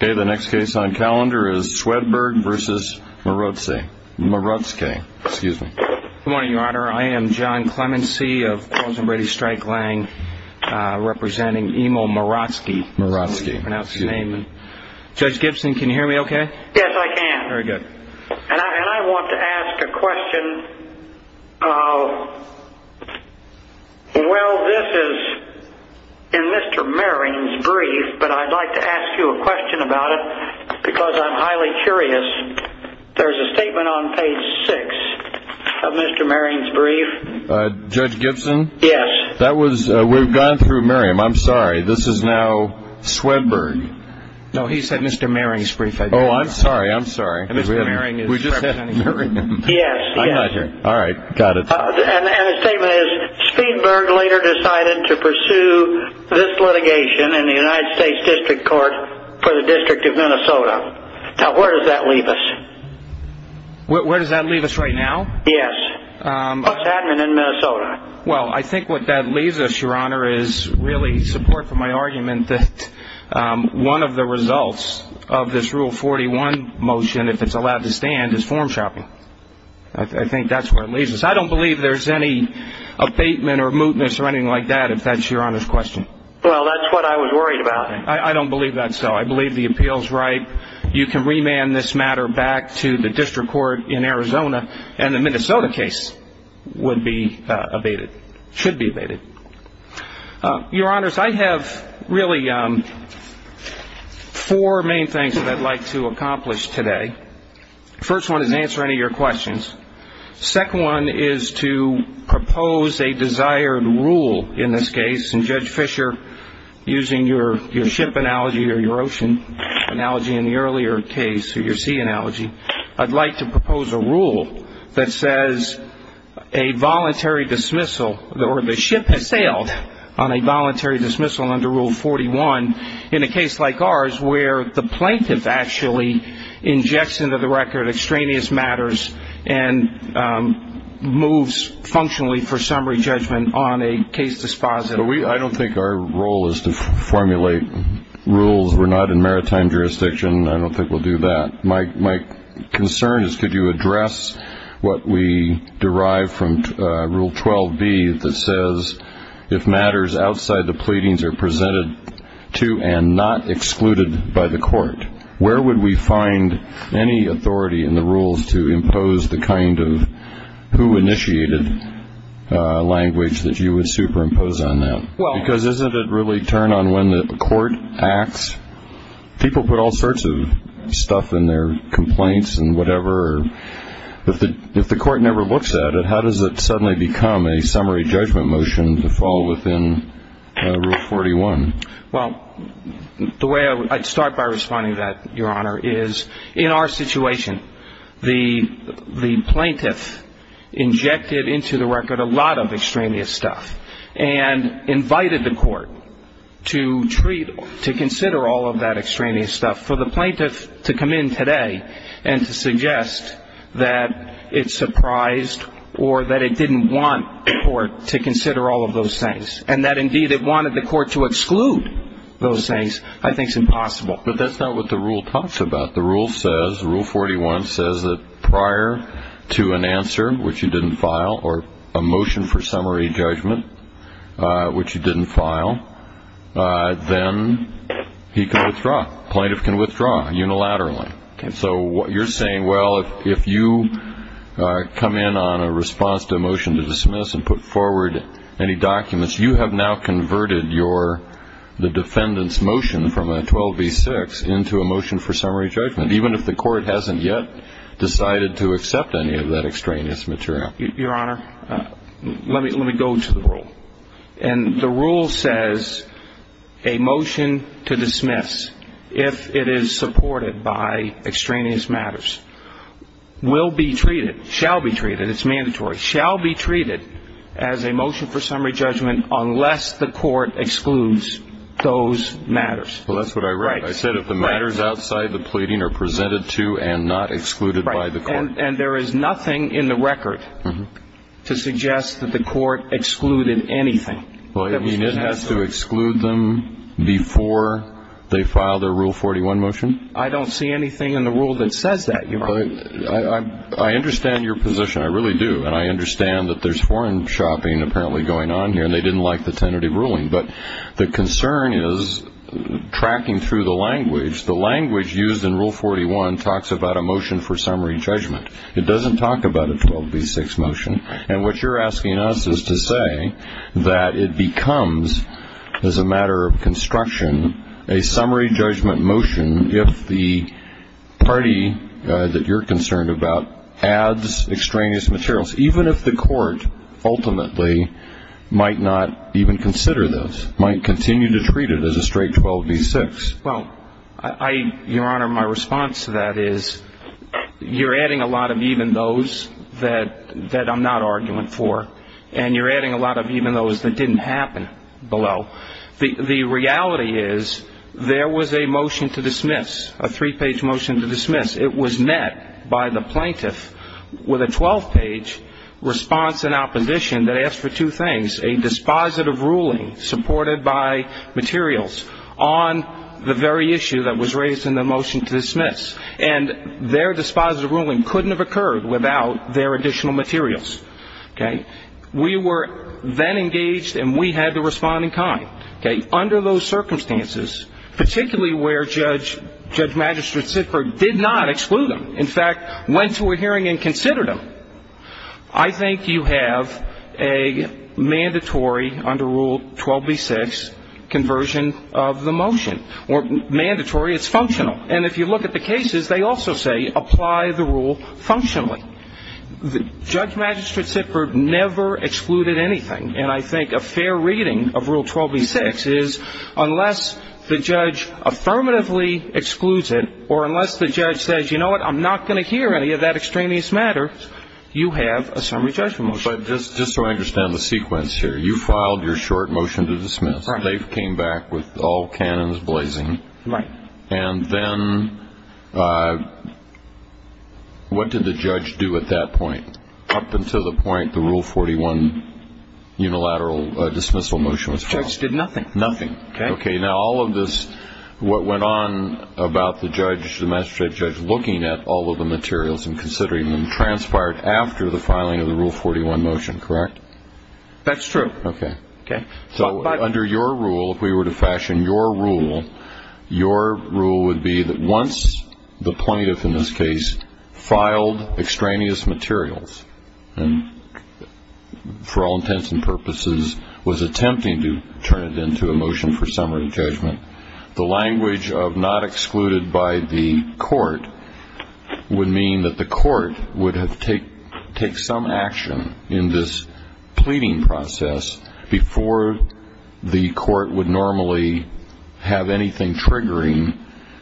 Good morning, Your Honor. I am John Clemency of Cause and Ready Strike Lang, representing Emil Marotzke. Judge Gibson, can you hear me okay? Yes, I can. And I want to ask a question. Well, this is in Mr. Maron's brief, but I'd like to ask you a question about it, because I'm highly curious. There's a statement on page 6 of Mr. Maron's brief. Judge Gibson? Yes. We've gone through Maron. I'm sorry. This is now Swedberg. No, he said Mr. Maron's brief. Oh, I'm sorry. I'm sorry. Mr. Maron is representing him. Yes. I got you. All right. Got it. And the statement is, Swedberg later decided to pursue this litigation in the United States District Court for the District of Minnesota. Now, where does that leave us? Where does that leave us right now? Yes. Bus Admin in Minnesota. Well, I think what that leaves us, Your Honor, is really support for my argument that one of the results of this Rule 41 motion, if it's allowed to stand, is form shopping. I think that's where it leaves us. I don't believe there's any abatement or mootness or anything like that, if that's Your Honor's question. Well, that's what I was worried about. I don't believe that's so. I believe the appeal's right. You can remand this matter back to the District Court in Arizona, and the Minnesota case would be abated, should be abated. Your Honors, I have really four main things that I'd like to accomplish today. First one is answer any of your questions. Second one is to propose a desired rule in this case, and Judge Fischer, using your ship analogy or your ocean analogy in the earlier case or your sea analogy, I'd like to propose a rule that says a voluntary dismissal or the ship has sailed on a voluntary dismissal under Rule 41 in a case like ours where the plaintiff actually injects into the record extraneous matters and moves functionally for summary judgment on a case dispositive. I don't think our role is to formulate rules. We're not in maritime jurisdiction. I don't think we'll do that. My concern is could you address what we derive from Rule 12b that says if matters outside the pleadings are presented to and not excluded by the court, where would we find any authority in the rules to impose the kind of who initiated language that you would superimpose on that? Because isn't it really turn on when the court acts? People put all sorts of stuff in their complaints and whatever. If the court never looks at it, how does it suddenly become a summary judgment motion to fall within Rule 41? Well, the way I'd start by responding to that, Your Honor, is in our situation, the plaintiff injected into the record a lot of extraneous stuff and invited the court to treat, to consider all of that extraneous stuff for the plaintiff to come in today and to suggest that it surprised or that it didn't want the court to consider all of those things and that, indeed, it wanted the court to exclude those things. I think it's impossible. But that's not what the rule talks about. The rule says, Rule 41 says that prior to an answer, which you didn't file, or a motion for summary judgment, which you didn't file, then he can withdraw. The plaintiff can withdraw unilaterally. So what you're saying, well, if you come in on a response to a motion to dismiss and put forward any documents, you have now converted your, the defendant's motion from a 12b-6 into a motion for summary judgment, even if the court hasn't yet decided to accept any of that extraneous material. Your Honor, let me go to the rule. And the rule says a motion to dismiss, if it is supported by extraneous matters, will be treated, shall be treated, it's mandatory, shall be treated as a motion for summary judgment unless the court excludes those matters. Well, that's what I wrote. Right. I said if the matters outside the pleading are presented to and not excluded by the court. Right. And there is nothing in the record to suggest that the court excluded anything that was presented. Well, you mean it has to exclude them before they file their Rule 41 motion? I don't see anything in the rule that says that, Your Honor. I understand your position. I really do. And I understand that there's foreign shopping apparently going on here, and they didn't like the tentative ruling. But the concern is tracking through the language. The language used in Rule 41 talks about a motion for summary judgment. It doesn't talk about a 12b-6 motion. And what you're asking us is to say that it becomes, as a matter of construction, a summary judgment motion if the party that you're concerned about adds extraneous materials, even if the court ultimately might not even consider those, might continue to treat it as a straight 12b-6. Well, Your Honor, my response to that is you're adding a lot of even those that I'm not arguing for, and you're adding a lot of even those that didn't happen below. The reality is there was a motion to dismiss, a three-page motion to dismiss. It was met by the plaintiff with a 12-page response in opposition that asked for two things, a dispositive ruling supported by materials on the very issue that was raised in the motion to dismiss. And their dispositive ruling couldn't have occurred without their additional materials. Okay. We were then engaged, and we had to respond in kind. Okay. Under those circumstances, particularly where Judge Magistrate Sitberg did not exclude them, in fact, went to a hearing and considered them, I think you have a mandatory, under Rule 12b-6, conversion of the motion. Or mandatory, it's functional. And if you look at the cases, they also say apply the And I think a fair reading of Rule 12b-6 is unless the judge affirmatively excludes it or unless the judge says, you know what, I'm not going to hear any of that extraneous matter, you have a summary judgment motion. But just so I understand the sequence here, you filed your short motion to dismiss. Right. They came back with all cannons blazing. Right. And then what did the judge do at that point? Up until the point the Rule 41 unilateral dismissal motion was filed. The judge did nothing. Nothing. Okay. Now, all of this, what went on about the judge, the magistrate judge looking at all of the materials and considering them transpired after the filing of the Rule 41 motion, correct? That's true. Okay. Okay. So under your rule, if we were to fashion your rule, your rule would be that once the plaintiff, in this case, filed extraneous materials and for all intents and purposes was attempting to turn it into a motion for summary judgment, the language of not excluded by the court would mean that the court would have to take some action in this pleading process before the court would normally have anything triggering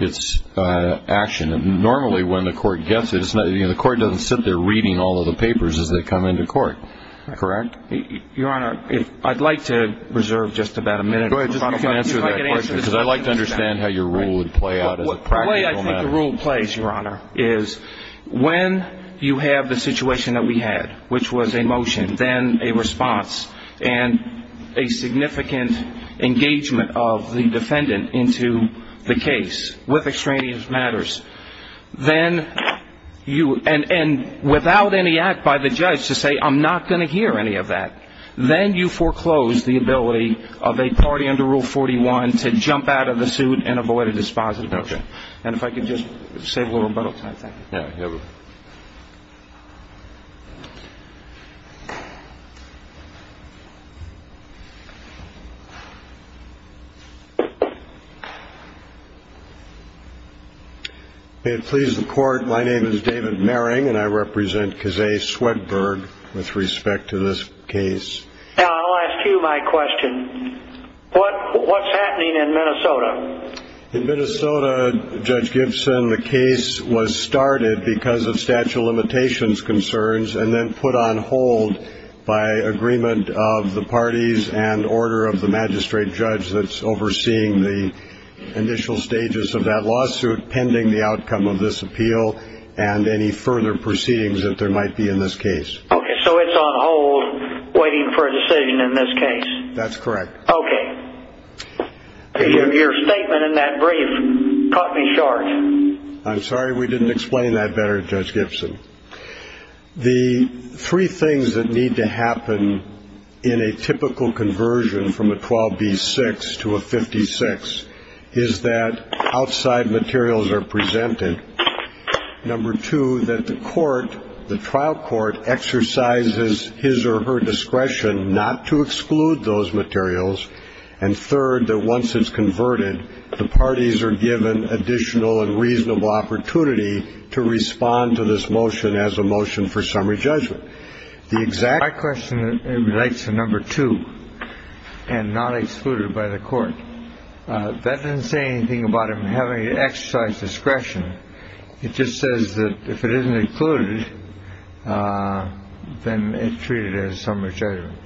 its action. Normally, when the court gets it, the court doesn't sit there reading all of the papers as they come into court, correct? Your Honor, I'd like to reserve just about a minute. Go ahead. Just so I can answer that question. Because I'd like to understand how your rule would play out as a practical matter. The way I think the rule plays, Your Honor, is when you have the situation that we had, which was a motion, then a response, and a significant engagement of the defendant into the case with extraneous matters, and without any act by the judge to say, I'm not going to hear any of that. Then you foreclose the ability of a party under Rule 41 to jump out of the suit and avoid a dispositive action. Okay. And if I could just save a little rebuttal time, thank you. Yeah, go ahead. May it please the Court, my name is David Merring, and I represent Kazay Swedberg with respect to this case. I'll ask you my question. What's happening in Minnesota? In Minnesota, Judge Gibson, the case was started because of statute of limitations concerns and then put on hold by agreement of the parties and order of the magistrate judge that's overseeing the initial stages of that lawsuit pending the outcome of this appeal and any further proceedings that there might be in this case. Okay, so it's on hold waiting for a decision in this case. That's correct. Okay. Your statement in that brief cut me short. I'm sorry we didn't explain that better, Judge Gibson. The three things that need to happen in a typical conversion from a 12B6 to a 56 is that outside materials are presented, number two, that the court, the trial court, exercises his or her discretion not to exclude those materials, and third, that once it's converted, the parties are given additional and reasonable opportunity to respond to this motion as a motion for summary judgment. My question relates to number two and not excluded by the court. That doesn't say anything about him having to exercise discretion. It just says that if it isn't included, then it's treated as summary judgment.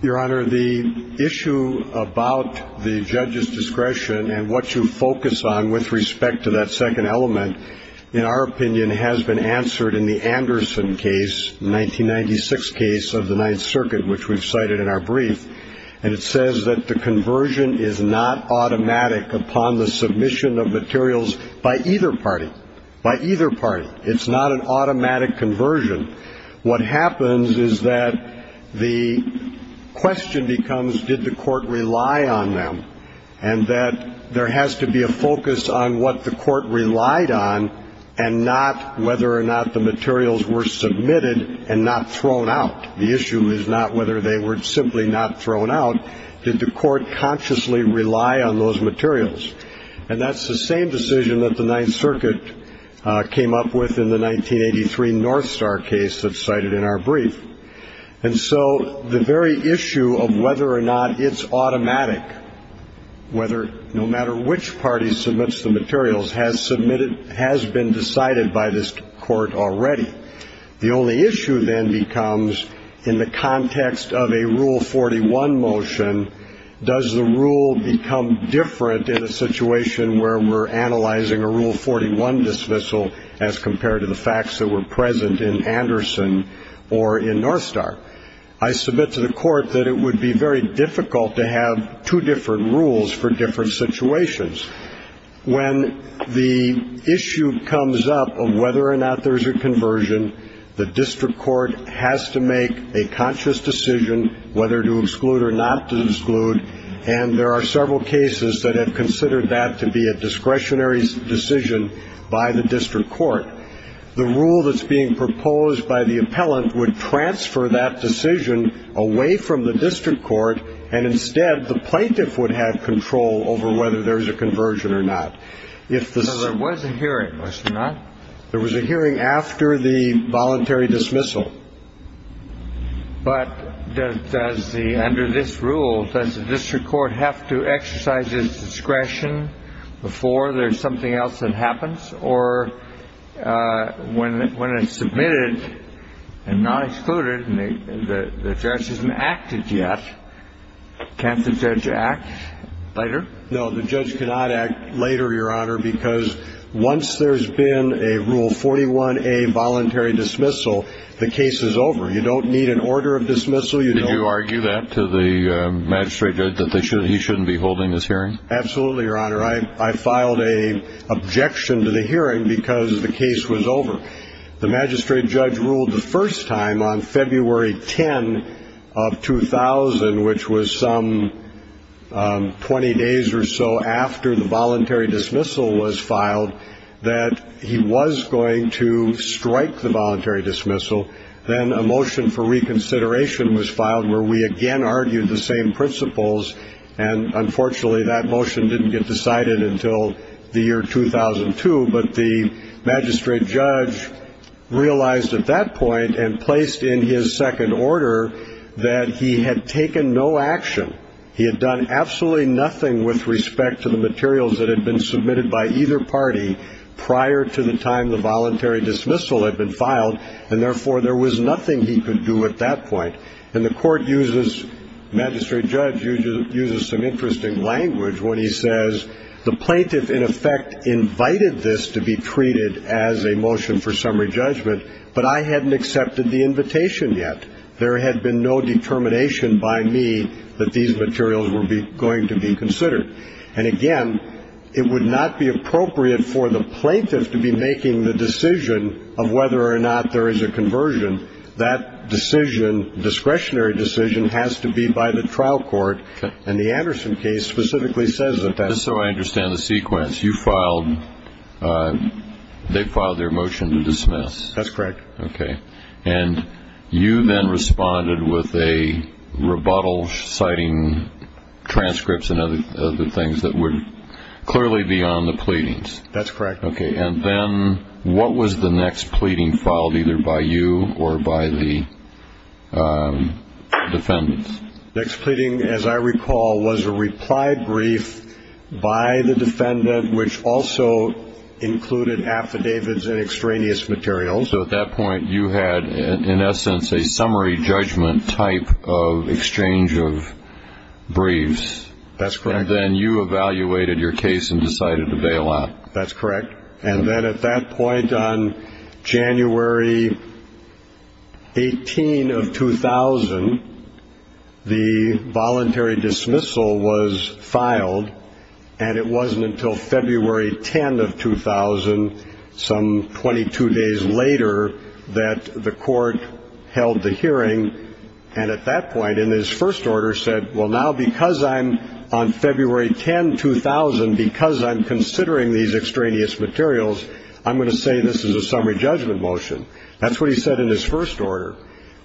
Your Honor, the issue about the judge's discretion and what you focus on with respect to that second element, in our opinion, has been answered in the Anderson case, the 1996 case of the Ninth Circuit, which we've cited in our brief, and it says that the conversion is not automatic upon the submission of materials by either party, by either party. It's not an automatic conversion. What happens is that the question becomes did the court rely on them and that there has to be a focus on what the court relied on and not whether or not the materials were submitted and not thrown out. The issue is not whether they were simply not thrown out. Did the court consciously rely on those materials? And that's the same decision that the Ninth Circuit came up with in the 1983 North Star case that's cited in our brief. And so the very issue of whether or not it's automatic, no matter which party submits the materials, has been decided by this court already. The only issue then becomes in the context of a Rule 41 motion, does the rule become different in a situation where we're analyzing a Rule 41 dismissal as compared to the facts that were present in Anderson or in North Star? I submit to the court that it would be very difficult to have two different rules for different situations. When the issue comes up of whether or not there's a conversion, the district court has to make a conscious decision whether to exclude or not to exclude, and there are several cases that have considered that to be a discretionary decision by the district court. The rule that's being proposed by the appellant would transfer that decision away from the district court, and instead the plaintiff would have control over whether there's a conversion or not. So there was a hearing, was there not? There was a hearing after the voluntary dismissal. But does the, under this rule, does the district court have to exercise its discretion before there's something else that happens? Or when it's submitted and not excluded and the judge hasn't acted yet, can't the judge act later? No, the judge cannot act later, Your Honor, because once there's been a Rule 41A voluntary dismissal, the case is over. You don't need an order of dismissal. Did you argue that to the magistrate judge, that he shouldn't be holding this hearing? Absolutely, Your Honor. I filed an objection to the hearing because the case was over. The magistrate judge ruled the first time on February 10 of 2000, which was some 20 days or so after the voluntary dismissal was filed, that he was going to strike the voluntary dismissal. Then a motion for reconsideration was filed where we again argued the same principles, and unfortunately that motion didn't get decided until the year 2002. But the magistrate judge realized at that point and placed in his second order that he had taken no action. He had done absolutely nothing with respect to the materials that had been submitted by either party prior to the time the voluntary dismissal had been filed, and therefore there was nothing he could do at that point. And the court uses, the magistrate judge uses some interesting language when he says, the plaintiff in effect invited this to be treated as a motion for summary judgment, but I hadn't accepted the invitation yet. There had been no determination by me that these materials were going to be considered. And again, it would not be appropriate for the plaintiff to be making the decision of whether or not there is a conversion. That decision, discretionary decision, has to be by the trial court, and the Anderson case specifically says that that's. Just so I understand the sequence, you filed, they filed their motion to dismiss. That's correct. And you then responded with a rebuttal citing transcripts and other things that were clearly beyond the pleadings. That's correct. And then what was the next pleading filed, either by you or by the defendants? The next pleading, as I recall, was a reply brief by the defendant, which also included affidavits and extraneous materials. So at that point you had, in essence, a summary judgment type of exchange of briefs. That's correct. And then you evaluated your case and decided to bail out. That's correct. And then at that point on January 18 of 2000, the voluntary dismissal was filed, and it wasn't until February 10 of 2000, some 22 days later, that the court held the hearing, and at that point in his first order said, Well, now because I'm on February 10, 2000, because I'm considering these extraneous materials, I'm going to say this is a summary judgment motion. That's what he said in his first order.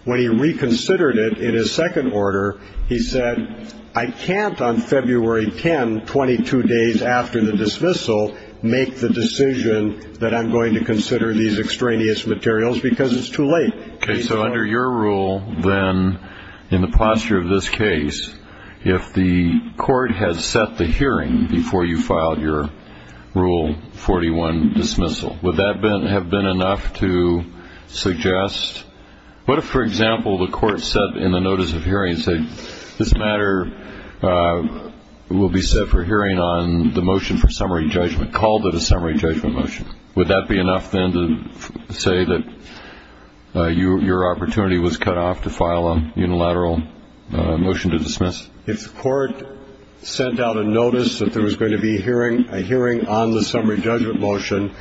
When he reconsidered it in his second order, he said, I can't on February 10, 22 days after the dismissal, make the decision that I'm going to consider these extraneous materials because it's too late. Okay. So under your rule, then, in the posture of this case, if the court has set the hearing before you filed your Rule 41 dismissal, would that have been enough to suggest? What if, for example, the court set in the notice of hearing and said, This matter will be set for hearing on the motion for summary judgment, called it a summary judgment motion. Would that be enough, then, to say that your opportunity was cut off to file a unilateral motion to dismiss? If the court sent out a notice that there was going to be a hearing on the summary judgment motion,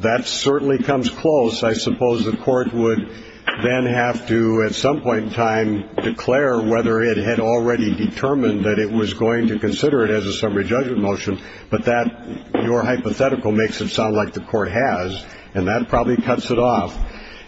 that certainly comes close. I suppose the court would then have to, at some point in time, declare whether it had already determined that it was going to consider it as a summary judgment motion, but that your hypothetical makes it sound like the court has, and that probably cuts it off.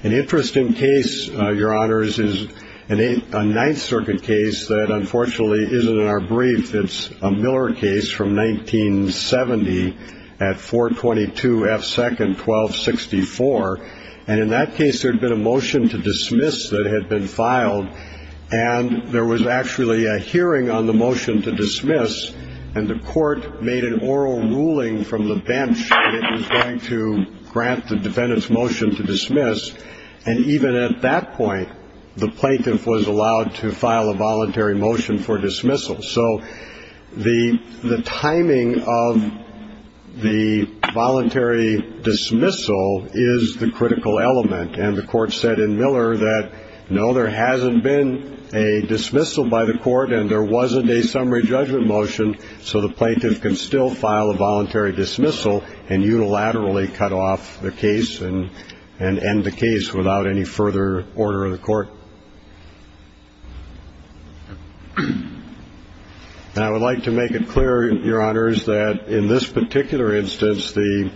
An interesting case, Your Honors, is a Ninth Circuit case that, unfortunately, isn't in our brief. It's a Miller case from 1970 at 422 F. Second 1264. And in that case, there had been a motion to dismiss that had been filed, and there was actually a hearing on the motion to dismiss, and the court made an oral ruling from the bench that it was going to grant the defendant's motion to dismiss. And even at that point, the plaintiff was allowed to file a voluntary motion for dismissal. So the timing of the voluntary dismissal is the critical element, and the court said in Miller that, No, there hasn't been a dismissal by the court, and there wasn't a summary judgment motion, so the plaintiff can still file a voluntary dismissal and unilaterally cut off the case and end the case without any further order of the court. And I would like to make it clear, Your Honors, that in this particular instance, the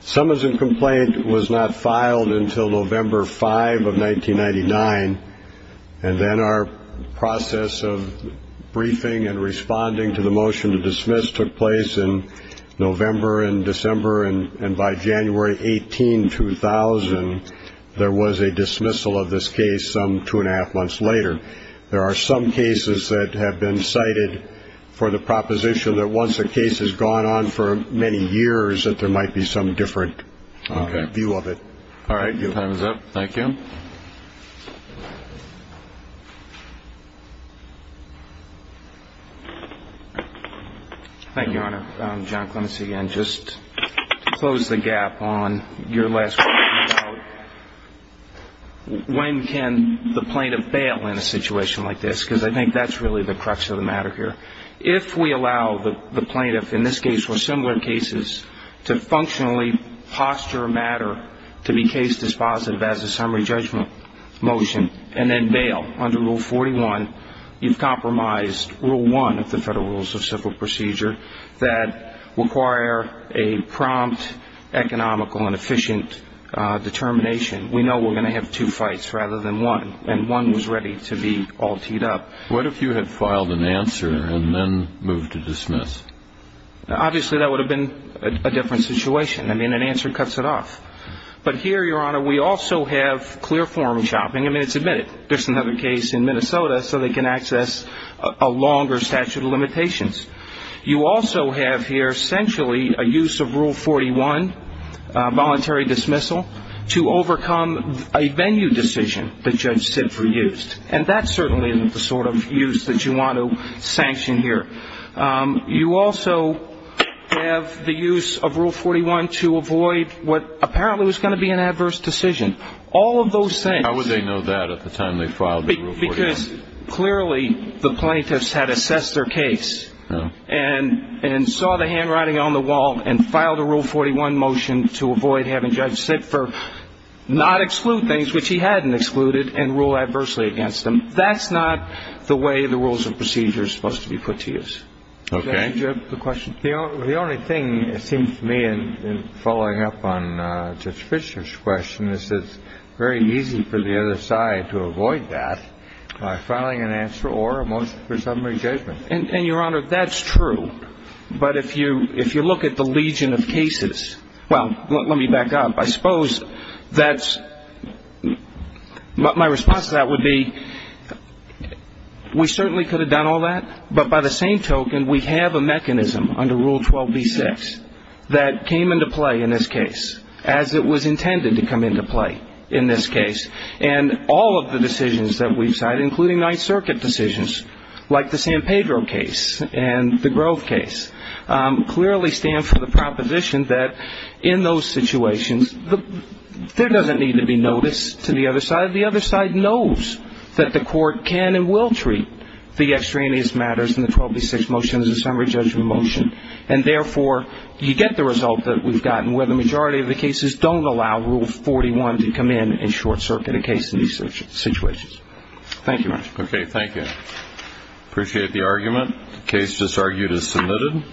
summons and complaint was not filed until November 5 of 1999, and then our process of briefing and responding to the motion to dismiss took place in November and December, and by January 18, 2000, there was a dismissal of this case some two and a half months later. There are some cases that have been cited for the proposition that once a case has gone on for many years, that there might be some different view of it. All right, your time is up. Thank you. Thank you, Your Honor. John Clements again, just to close the gap on your last question about when can the plaintiff bail in a situation like this, because I think that's really the crux of the matter here. If we allow the plaintiff, in this case or similar cases, to functionally posture a matter to be case dispositive as a summary judgment motion and then bail under Rule 41, you've compromised Rule 1 of the Federal Rules of Civil Procedure that require a prompt, economical, and efficient determination. We know we're going to have two fights rather than one, and one was ready to be all teed up. What if you had filed an answer and then moved to dismiss? Obviously, that would have been a different situation. I mean, an answer cuts it off. But here, Your Honor, we also have clear form shopping. I mean, it's admitted. There's another case in Minnesota, so they can access a longer statute of limitations. You also have here essentially a use of Rule 41, voluntary dismissal, to overcome a venue decision that Judge Sipfer used, and that certainly isn't the sort of use that you want to sanction here. You also have the use of Rule 41 to avoid what apparently was going to be an adverse decision. All of those things. How would they know that at the time they filed the Rule 41? Because clearly the plaintiffs had assessed their case and saw the handwriting on the wall and filed a Rule 41 motion to avoid having Judge Sipfer not exclude things which he hadn't excluded and rule adversely against them. That's not the way the rules of procedure are supposed to be put to use. Okay. Judge, do you have a question? The only thing, it seems to me, in following up on Judge Fisher's question, is it's very easy for the other side to avoid that by filing an answer or a motion for summary judgment. And, Your Honor, that's true. But if you look at the legion of cases, well, let me back up. I suppose that's my response to that would be we certainly could have done all that, but by the same token we have a mechanism under Rule 12b-6 that came into play in this case, as it was intended to come into play in this case. And all of the decisions that we've cited, including Ninth Circuit decisions, like the San Pedro case and the Grove case, clearly stand for the proposition that in those situations there doesn't need to be notice to the other side. The other side knows that the court can and will treat the extraneous matters in the 12b-6 motion as a summary judgment motion, and therefore you get the result that we've gotten where the majority of the cases don't allow Rule 41 to come in and short-circuit a case in these situations. Thank you, Your Honor. Okay, thank you. Appreciate the argument. The case just argued is submitted.